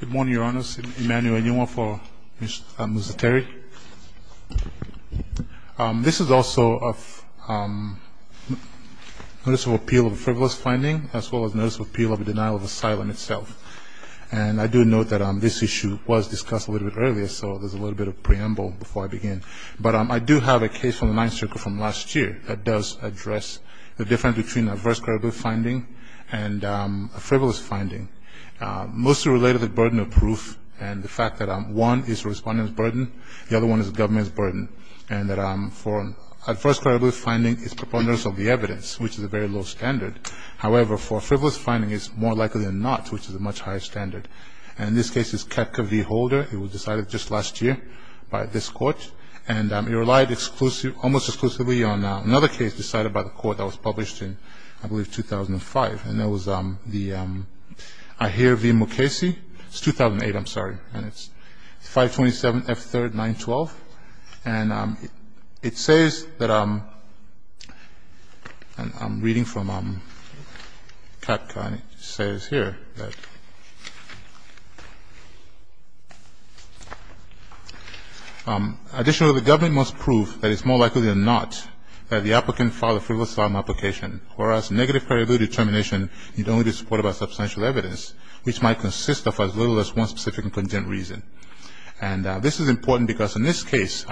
Good morning, Your Honours. Emmanuel Nyong'o for Mr. Musateri. This is also a Notice of Appeal of a Frivolous Finding, as well as Notice of Appeal of a Denial of Asylum itself. And I do note that this issue was discussed a little bit earlier, so there's a little bit of preamble before I begin. But I do have a case from the Ninth Circuit from last year that does address the difference between an Adverse Credibility Finding and a Frivolous Finding. Mostly related to the burden of proof and the fact that one is the Respondent's burden, the other one is the Government's burden, and that an Adverse Credibility Finding is preponderance of the evidence, which is a very low standard. However, for a Frivolous Finding, it's more likely than not, which is a much higher standard. And this case is Koepke v. Holder. It was decided just last year by this Court, and it relied almost exclusively on another case decided by the Court that was published in, I believe, 2005. And that was the Ahir v. Mukasey. It's 2008, I'm sorry. And it's 527 F3rd 912. And it says that I'm reading from Koepke, and it says here that Additionally, the Government must prove that it's more likely than not that the applicant filed a frivolous filing application, whereas negative credibility determination need only be supported by substantial evidence, which might consist of as little as one specific and content reason. And this is important because in this case,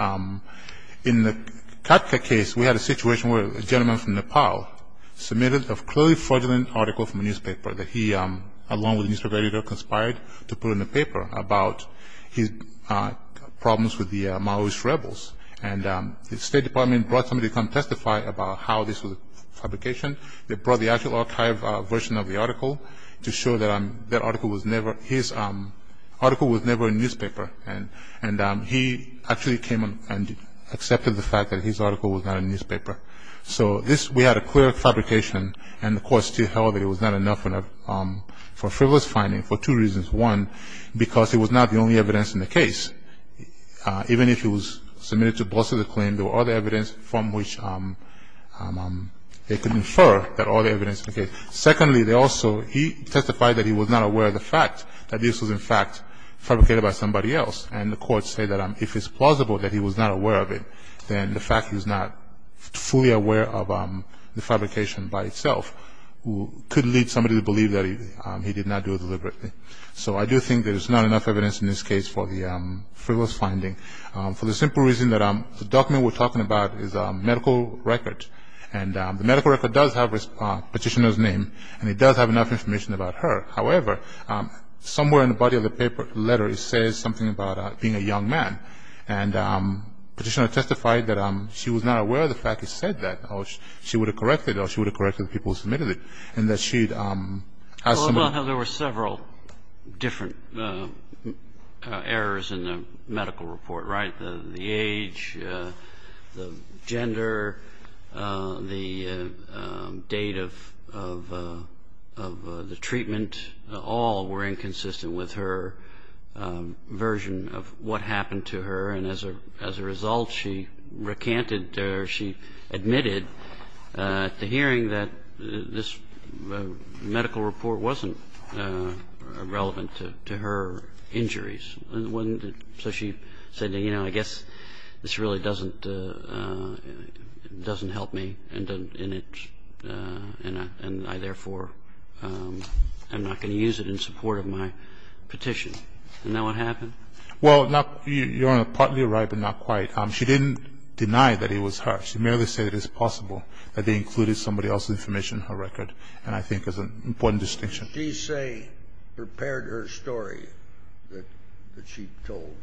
in the Katka case, we had a situation where a gentleman from Nepal submitted a clearly fraudulent article from a newspaper that he, along with a newspaper editor, conspired to put in the paper about his problems with the Maoist rebels. And the State Department brought somebody to come testify about how this was a fabrication. They brought the actual archive version of the article to show that that article was never – his article was never in a newspaper. And he actually came and accepted the fact that his article was not in a newspaper. So this – we had a clear fabrication, and the Court still held that it was not enough for a frivolous finding for two reasons. One, because it was not the only evidence in the case. Even if it was submitted to both sides of the claim, there were other evidence from which they could infer that all the evidence in the case. Secondly, they also – he testified that he was not aware of the fact that this was, in fact, fabricated by somebody else. And the Court said that if it's plausible that he was not aware of it, then the fact he was not fully aware of the fabrication by itself could lead somebody to believe that he did not do it deliberately. So I do think there's not enough evidence in this case for the frivolous finding, for the simple reason that the document we're talking about is a medical record. And the medical record does have the petitioner's name, and it does have enough information about her. However, somewhere in the body of the paper letter, it says something about being a young man. And the petitioner testified that she was not aware of the fact he said that, or she would have corrected it, or she would have corrected the people who submitted it, and that she'd – Well, there were several different errors in the medical report, right? The age, the gender, the date of the treatment, all were inconsistent with her version of what happened to her. And as a result, she recanted or she admitted at the hearing that this medical report wasn't relevant to her injuries. So she said, you know, I guess this really doesn't help me, and I therefore am not going to use it in support of my petition. Isn't that what happened? Well, Your Honor, partly you're right, but not quite. She didn't deny that it was her. She merely said it was possible that they included somebody else's information in her record, and I think that's an important distinction. She say prepared her story that she told.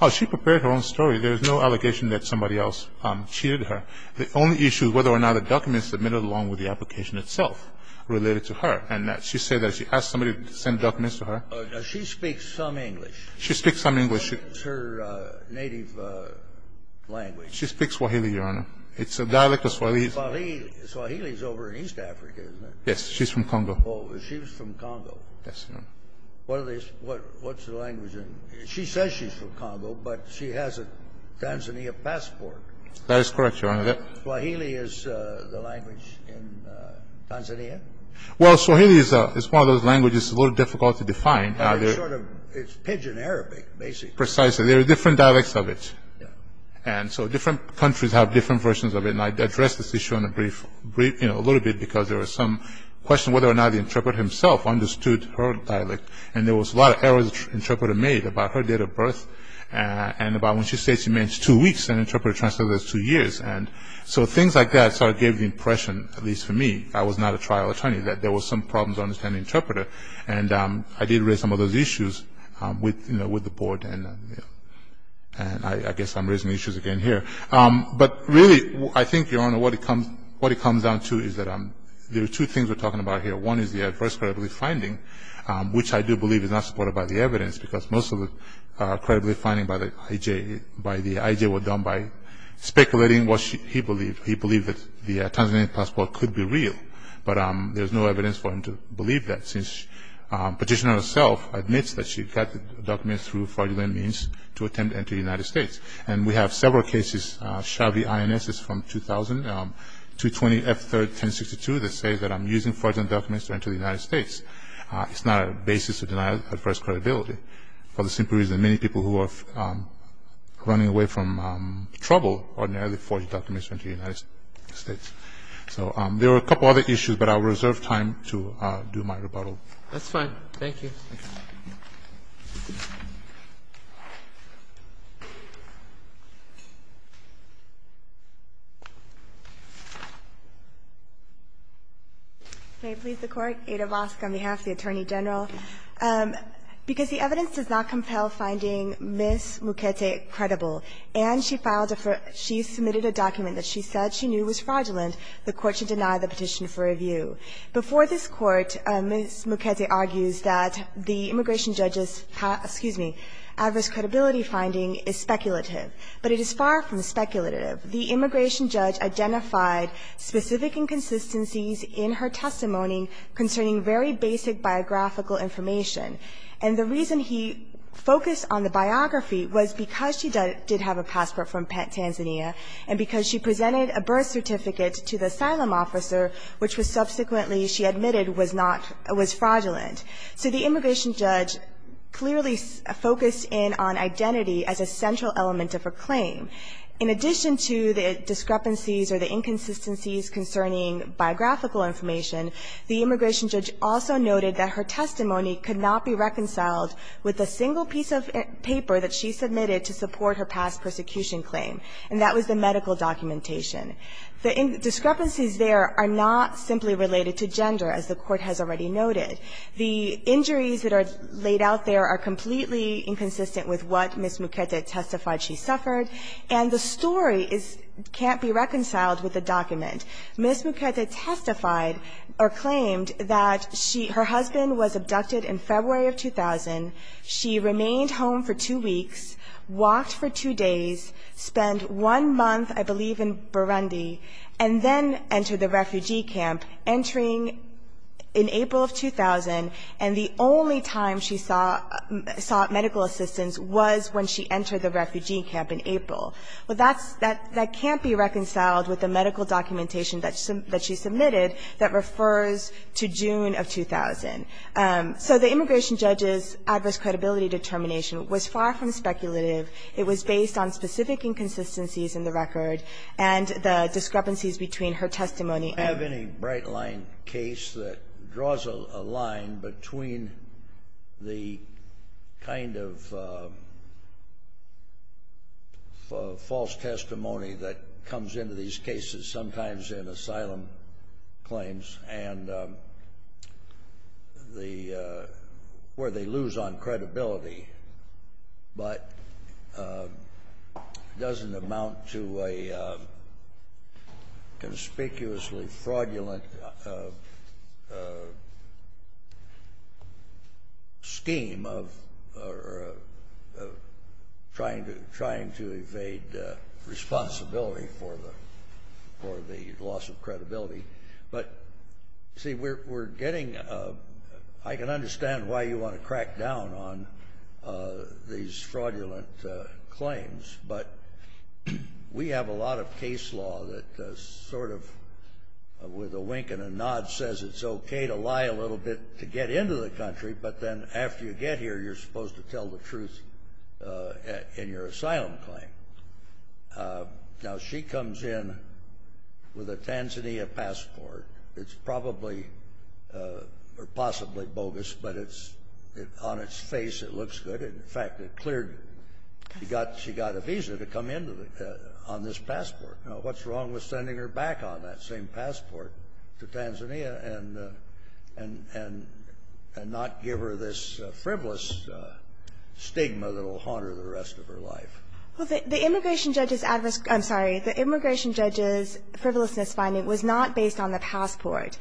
Oh, she prepared her own story. There is no allegation that somebody else cheated her. The only issue is whether or not the documents submitted along with the application itself related to her, and she said that she asked somebody to send documents to her. She speaks some English. She speaks some English. What is her native language? She speaks Swahili, Your Honor. It's a dialect of Swahili. Swahili is over in East Africa, isn't it? She's from Congo. Oh, she's from Congo. Yes, Your Honor. What's the language? She says she's from Congo, but she has a Tanzania passport. That is correct, Your Honor. Swahili is the language in Tanzania? Well, Swahili is one of those languages that's a little difficult to define. It's pidgin Arabic, basically. Precisely. There are different dialects of it, and so different countries have different versions of it, and I addressed this issue in a brief, you know, a little bit because there was some question whether or not the interpreter himself understood her dialect, and there was a lot of errors the interpreter made about her date of birth and about when she said she meant two weeks, and the interpreter translated it as two years, and so things like that sort of gave the impression, at least for me, I was not a trial attorney, that there were some problems understanding the interpreter, and I did raise some of those issues with the board, and I guess I'm raising issues again here. But really, I think, Your Honor, what it comes down to is that there are two things we're talking about here. One is the adverse credibility finding, which I do believe is not supported by the evidence because most of the credibility findings by the IJ were done by speculating what he believed. He believed that the Tanzanian passport could be real, but there's no evidence for him to believe that since the petitioner herself admits that she got the documents through fraudulent means to attempt to enter the United States, and we have several cases, Shabby INSs from 2000, 220 F3rd 1062, that say that I'm using fraudulent documents to enter the United States. It's not a basis to deny adverse credibility for the simple reason many people who are running away from trouble ordinarily forge documents to enter the United States. So there are a couple other issues, but I'll reserve time to do my rebuttal. That's fine. Thank you. May it please the Court. Ada Mosk on behalf of the Attorney General. Because the evidence does not compel finding Ms. Mukete credible, and she filed a for her – she submitted a document that she said she knew was fraudulent, the Court should deny the petition for review. Before this Court, Ms. Mukete argues that the immigration judge's – excuse me – adverse credibility finding is speculative, but it is far from speculative. The immigration judge identified specific inconsistencies in her testimony concerning very basic biographical information, and the reason he focused on the biography was because she did have a passport from Tanzania and because she presented a birth certificate to the asylum officer, which was subsequently she admitted was not – was fraudulent. So the immigration judge clearly focused in on identity as a central element of her claim. In addition to the discrepancies or the inconsistencies concerning biographical information, the immigration judge also noted that her testimony could not be reconciled with a single piece of paper that she submitted to support her past persecution claim, and that was the medical documentation. The discrepancies there are not simply related to gender, as the Court has already noted. The injuries that are laid out there are completely inconsistent with what Ms. Mukete testified she suffered, and the story is – can't be reconciled with the document. Ms. Mukete testified or claimed that she – her husband was abducted in February of 2000. She remained home for two weeks, walked for two days, spent one month, I believe, in Burundi, and then entered the refugee camp, entering in April of 2000, and the only time she saw – sought medical assistance was when she entered the refugee camp in April. Well, that's – that can't be reconciled with the medical documentation that she submitted that refers to June of 2000. So the immigration judge's adverse credibility determination was far from speculative. It was based on specific inconsistencies in the record and the discrepancies between her testimony and – I don't have any bright-line case that draws a line between the kind of false testimony that comes into these cases, sometimes in asylum claims, and the kind of false testimony where they lose on credibility but doesn't amount to a conspicuously fraudulent scheme of trying to evade responsibility for the loss of credibility. But, see, we're getting – I can understand why you want to crack down on these fraudulent claims, but we have a lot of case law that sort of, with a wink and a nod, says it's okay to lie a little bit to get into the country, but then after you get here you're supposed to tell the truth in your asylum claim. Now, she comes in with a Tanzania passport. It's probably – or possibly bogus, but it's – on its face it looks good. In fact, it cleared – she got a visa to come into the – on this passport. Now, what's wrong with sending her back on that same passport to Tanzania and not give her this frivolous stigma that will haunt her the rest of her life? Well, the immigration judge's – I'm sorry. The immigration judge's frivolousness finding was not based on the passport.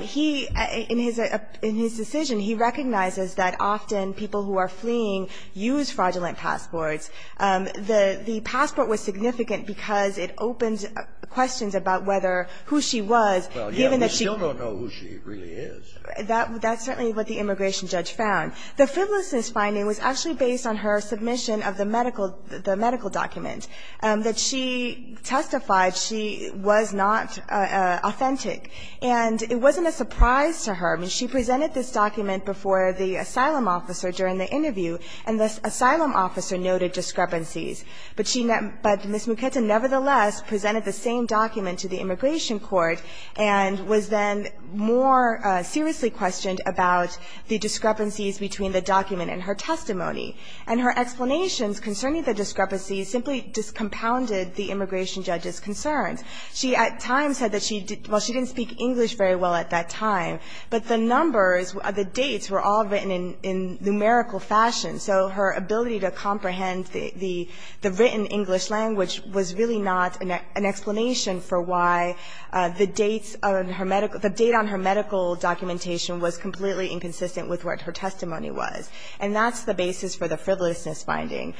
He – in his – in his decision, he recognizes that often people who are fleeing use fraudulent passports. The passport was significant because it opens questions about whether – who she was, given that she – Well, yet we still don't know who she really is. That's certainly what the immigration judge found. The frivolousness finding was actually based on her submission of the medical – the medical document that she testified she was not authentic. And it wasn't a surprise to her. I mean, she presented this document before the asylum officer during the interview, and the asylum officer noted discrepancies. But she – but Ms. Muketa nevertheless presented the same document to the immigration court and was then more seriously questioned about the discrepancies between the document and her testimony. And her explanations concerning the discrepancies simply discompounded the immigration judge's concerns. She at times said that she – well, she didn't speak English very well at that time, but the numbers – the dates were all written in numerical fashion. So her ability to comprehend the written English language was really not an explanation for why the dates on her medical – the date on her medical documentation was completely inconsistent with what her testimony was. And that's the basis for the frivolousness finding.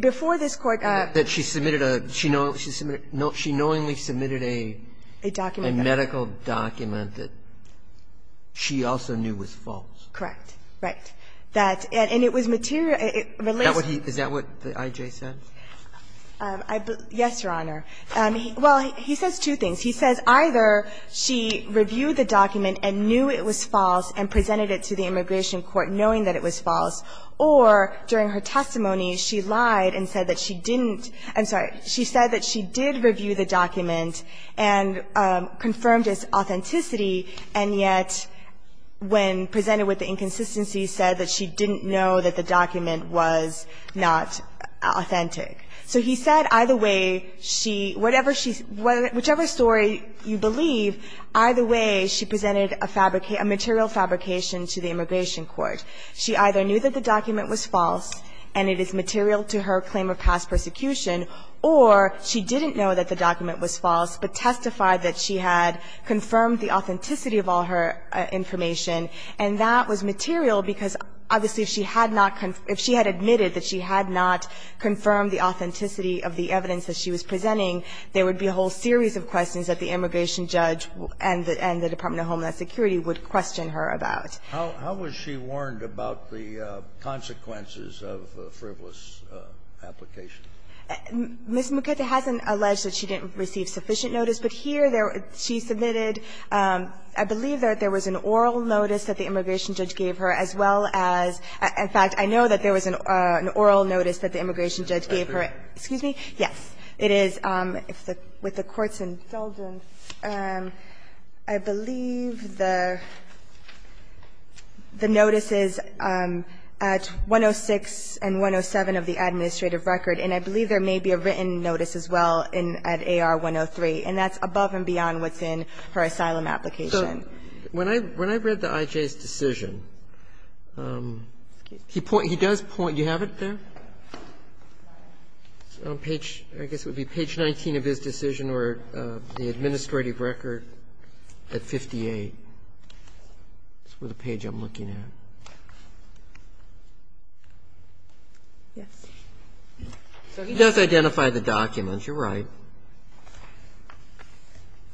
Before this Court – That she submitted a – she knowingly submitted a – A document. A medical document that she also knew was false. Correct. Right. That – and it was material – it relates to – Is that what he – is that what the I.J. said? Yes, Your Honor. Well, he says two things. He says either she reviewed the document and knew it was false and presented it to the immigration court knowing that it was false, or during her testimony she lied and said that she didn't – I'm sorry. She said that she did review the document and confirmed its authenticity, and yet when presented with the inconsistency said that she didn't know that the document was not authentic. So he said either way she – whatever she – whichever story you believe, either way she presented a fabric – a material fabrication to the immigration court. She either knew that the document was false and it is material to her claim of past persecution, or she didn't know that the document was false but testified that she had confirmed the authenticity of all her information, and that was material because, obviously, if she had not – if she had admitted that she had not confirmed the authenticity of the evidence that she was presenting, there would be a whole series of questions that the immigration judge and the Department of Homeland Security would question her about. How was she warned about the consequences of a frivolous application? Ms. Mukata hasn't alleged that she didn't receive sufficient notice, but here she submitted – I believe that there was an oral notice that the immigration judge gave her as well as – in fact, I know that there was an oral notice that the immigration judge gave her. Excuse me? Yes. It is with the Court's indulgence. I believe the notice is at 106 and 107 of the administrative record, and I believe there may be a written notice as well at AR 103, and that's above and beyond what's in her asylum application. So when I read the I.J.'s decision, he does point – do you have it there? I guess it would be page 19 of his decision or the administrative record at 58. That's the page I'm looking at. Yes. He does identify the documents. You're right. It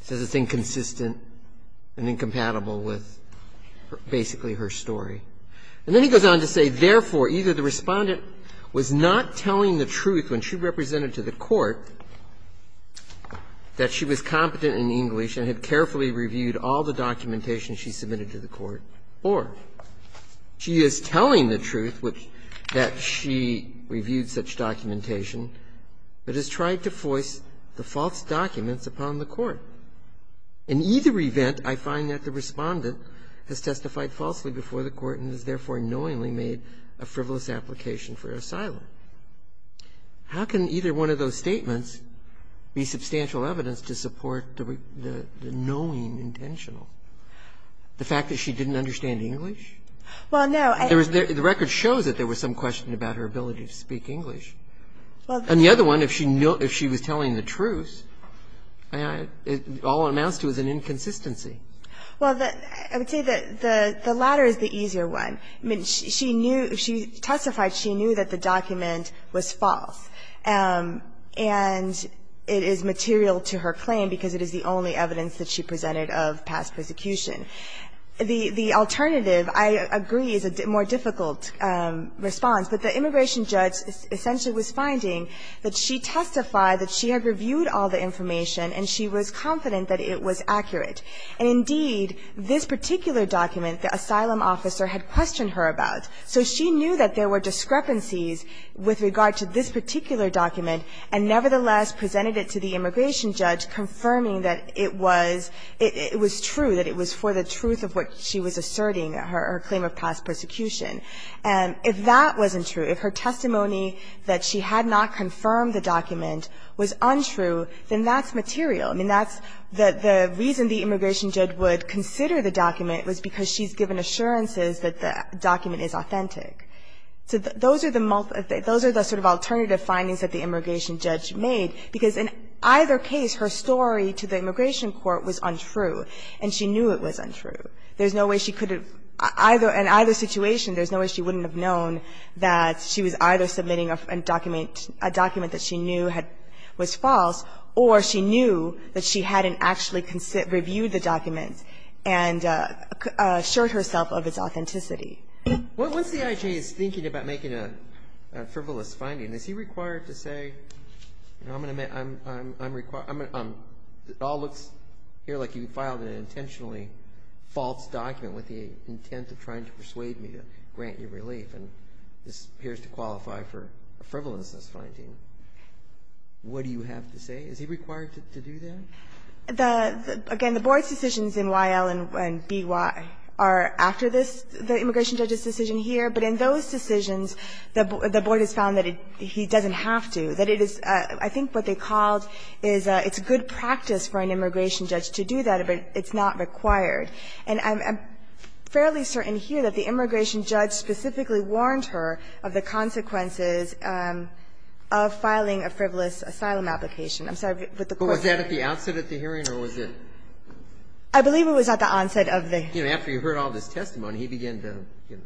says it's inconsistent and incompatible with basically her story. And then he goes on to say, Therefore, either the Respondent was not telling the truth when she represented to the Court that she was competent in English and had carefully reviewed all the documentation she submitted to the Court, or she is telling the truth that she upon the Court. In either event, I find that the Respondent has testified falsely before the Court and has therefore knowingly made a frivolous application for asylum. How can either one of those statements be substantial evidence to support the knowing intentional? The fact that she didn't understand English? Well, no. The record shows that there was some question about her ability to speak English. And the other one, if she was telling the truth, all it amounts to is an inconsistency. Well, I would say that the latter is the easier one. I mean, she testified she knew that the document was false. And it is material to her claim because it is the only evidence that she presented of past persecution. The alternative, I agree, is a more difficult response. But the immigration judge essentially was finding that she testified that she had reviewed all the information and she was confident that it was accurate. And indeed, this particular document, the asylum officer had questioned her about. So she knew that there were discrepancies with regard to this particular document and nevertheless presented it to the immigration judge confirming that it was true, that it was for the truth of what she was asserting, her claim of past persecution. If that wasn't true, if her testimony that she had not confirmed the document was untrue, then that's material. I mean, that's the reason the immigration judge would consider the document was because she's given assurances that the document is authentic. So those are the sort of alternative findings that the immigration judge made because in either case her story to the immigration court was untrue and she knew it was untrue. There's no way she could have, either, in either situation, there's no way she wouldn't have known that she was either submitting a document that she knew was false or she knew that she hadn't actually reviewed the document and assured herself of its authenticity. What's the IG's thinking about making a frivolous finding? Is he required to say, you know, I'm going to make, I'm, I'm, I'm required, I'm going to, it all looks here like you filed an intentionally false document with the intent of trying to persuade me to grant you relief, and this appears to qualify for a frivolousness finding. What do you have to say? Is he required to do that? The, again, the Board's decisions in Y.L. and B.Y. are after this, the immigration judge's decision here, but in those decisions the Board has found that he doesn't have to. That it is, I think what they called is, it's good practice for an immigration judge to do that, but it's not required. And I'm, I'm fairly certain here that the immigration judge specifically warned her of the consequences of filing a frivolous asylum application. I'm sorry, but the question. But was that at the onset of the hearing or was it? I believe it was at the onset of the hearing. You know, after you heard all this testimony, he began to, you know,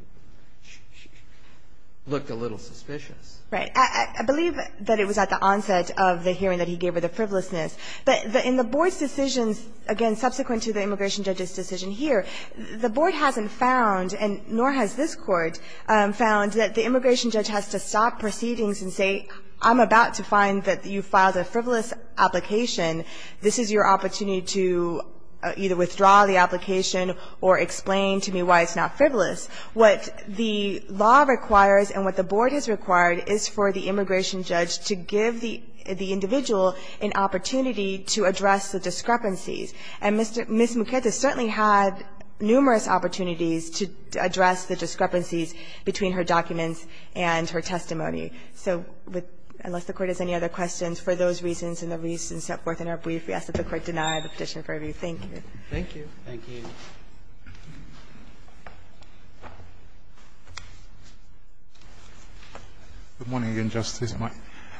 look a little suspicious. I believe that it was at the onset of the hearing that he gave her the frivolousness. But in the Board's decisions, again, subsequent to the immigration judge's decision here, the Board hasn't found, and nor has this Court, found that the immigration judge has to stop proceedings and say, I'm about to find that you filed a frivolous application. This is your opportunity to either withdraw the application or explain to me why it's not frivolous. What the law requires and what the Board has required is for the immigration judge to give the individual an opportunity to address the discrepancies. And Ms. Mukerte certainly had numerous opportunities to address the discrepancies between her documents and her testimony. So unless the Court has any other questions, for those reasons and the reasons set forth in our brief, we ask that the Court deny the petition for review. Thank you. Thank you. Thank you. Good morning, again, Justice.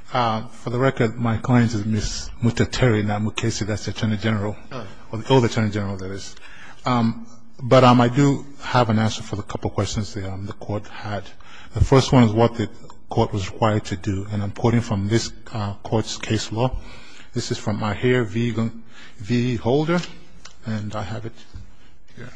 For the record, my client is Ms. Mutateri Nnamukese. That's the Attorney General, or the old Attorney General, that is. But I do have an answer for the couple of questions the Court had. The first one is what the Court was required to do. And I'm quoting from this Court's case law. So this is from Ahear V. Holder. And I have it here.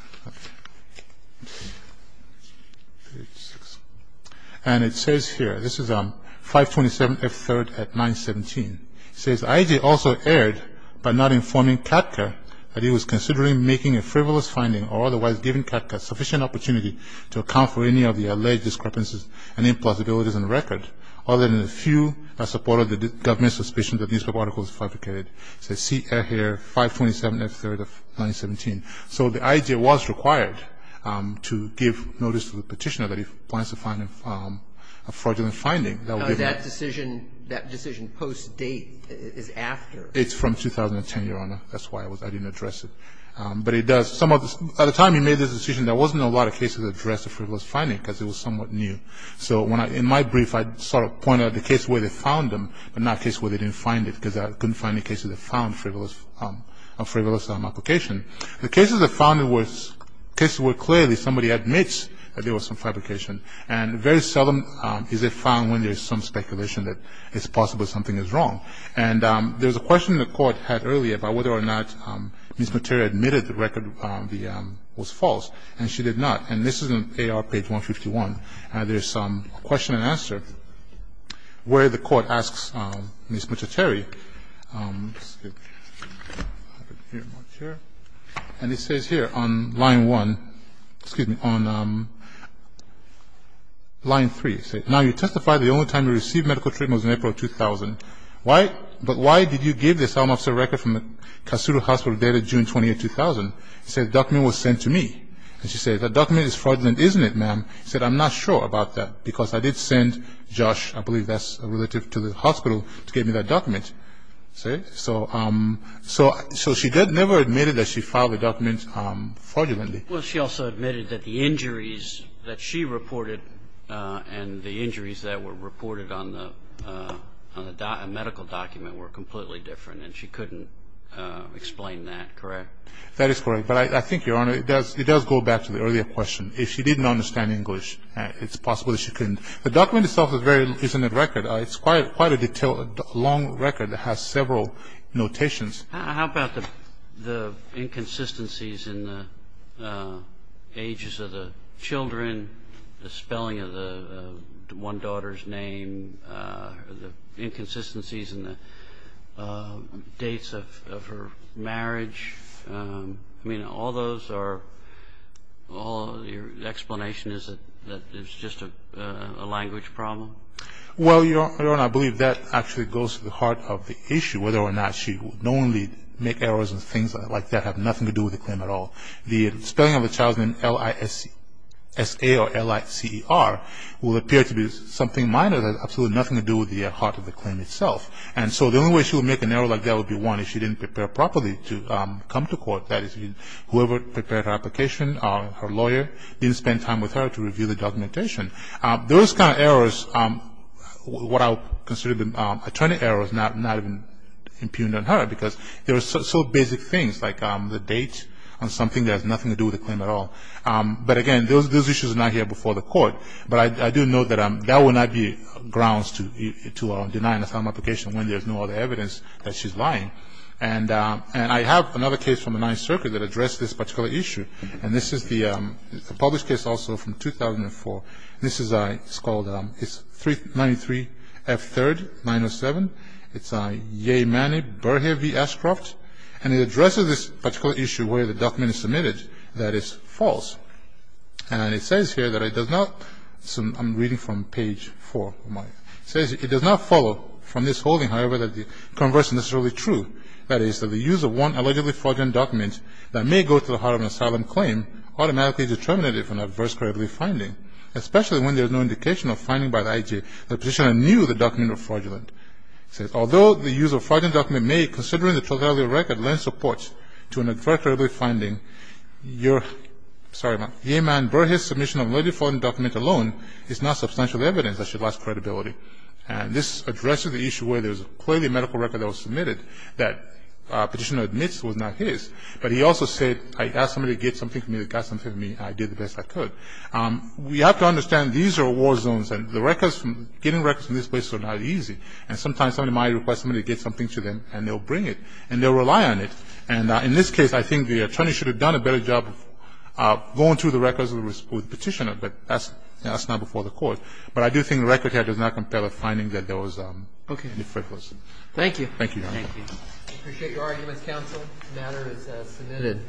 And it says here, this is 527F3rd at 917. It says, I.J. also erred by not informing CADCA that he was considering making a frivolous finding or otherwise giving CADCA sufficient opportunity to account for any of the alleged discrepancies and impossibilities in the record, other than a few that supported the government's suspicions that the newspaper article was fabricated. It says, see Ahear, 527F3rd of 917. So the I.J. was required to give notice to the petitioner that he plans to find a fraudulent finding. Now, that decision, that decision post-date is after. It's from 2010, Your Honor. That's why I didn't address it. But it does. At the time he made this decision, there wasn't a lot of cases addressed of frivolous finding because it was somewhat new. So in my brief, I sort of pointed out the case where they found them, but not a case where they didn't find it because I couldn't find any cases that found frivolous application. The cases that found it were cases where clearly somebody admits that there was some fabrication. And very seldom is it found when there's some speculation that it's possible something is wrong. And there was a question the Court had earlier about whether or not Ms. Materia admitted the record was false. And she did not. And this is on AR page 151. And there's a question and answer where the Court asks Ms. Materia. And it says here on line 1, excuse me, on line 3. It says, Now you testified the only time you received medical treatment was in April of 2000. But why did you give the asylum officer a record from the Kasuru Hospital dated June 20, 2000? She said the document was sent to me. And she said, The document is fraudulent, isn't it, ma'am? She said, I'm not sure about that because I did send Josh, I believe that's relative to the hospital, to give me that document. See? So she never admitted that she filed the document fraudulently. Well, she also admitted that the injuries that she reported and the injuries that were reported on the medical document were completely different. And she couldn't explain that, correct? That is correct. But I think, Your Honor, it does go back to the earlier question. If she didn't understand English, it's possible that she couldn't. The document itself is very, isn't it, record. It's quite a detailed, long record. It has several notations. How about the inconsistencies in the ages of the children, the spelling of one daughter's name, the inconsistencies in the dates of her marriage? I mean, all those are, your explanation is that it's just a language problem? Well, Your Honor, I believe that actually goes to the heart of the issue, whether or not she would only make errors and things like that have nothing to do with the claim at all. The spelling of a child's name, L-I-S-C, S-A or L-I-C-E-R, will appear to be something minor that has absolutely nothing to do with the heart of the claim itself. And so the only way she would make an error like that would be, one, if she didn't prepare properly to come to court. That is, whoever prepared her application, her lawyer, didn't spend time with her to review the documentation. Those kind of errors, what I would consider attorney errors, not even impugned on her because there are so basic things like the date and something that has nothing to do with the claim at all. But again, those issues are not here before the court. But I do note that that would not be grounds to deny an asylum application when there's no other evidence that she's lying. And I have another case from the Ninth Circuit that addressed this particular issue. And this is the published case also from 2004. This is called, it's 393 F. 3rd, 907. It's Yehmani Berhevi Ashcroft. And it addresses this particular issue where the document is submitted that is false. And it says here that it does not, I'm reading from page 4 of mine. It says it does not follow from this holding, however, that the converse is necessarily true. That is, that the use of one allegedly fraudulent document that may go to the heart of an asylum claim automatically determinates it for an adverse credibility finding, especially when there's no indication of finding by the IG that the petitioner knew the document was fraudulent. It says, although the use of a fraudulent document may, considering the totality of the record, lend support to an adverse credibility finding, Yehmani Berhevi's submission of a fraudulent document alone is not substantial evidence that she lost credibility. And this addresses the issue where there's clearly a medical record that was submitted that the petitioner admits was not his. But he also said, I asked somebody to get something for me. They got something for me, and I did the best I could. We have to understand these are war zones, and the records, getting records from these places are not easy. And sometimes somebody might request somebody to get something for them, and they'll bring it. And they'll rely on it. And in this case, I think the attorney should have done a better job of going through the records with the petitioner. But that's not before the court. But I do think the record here does not compel a finding that there was any frivolous. Thank you. Thank you, Your Honor. We appreciate your arguments, counsel. The matter is submitted.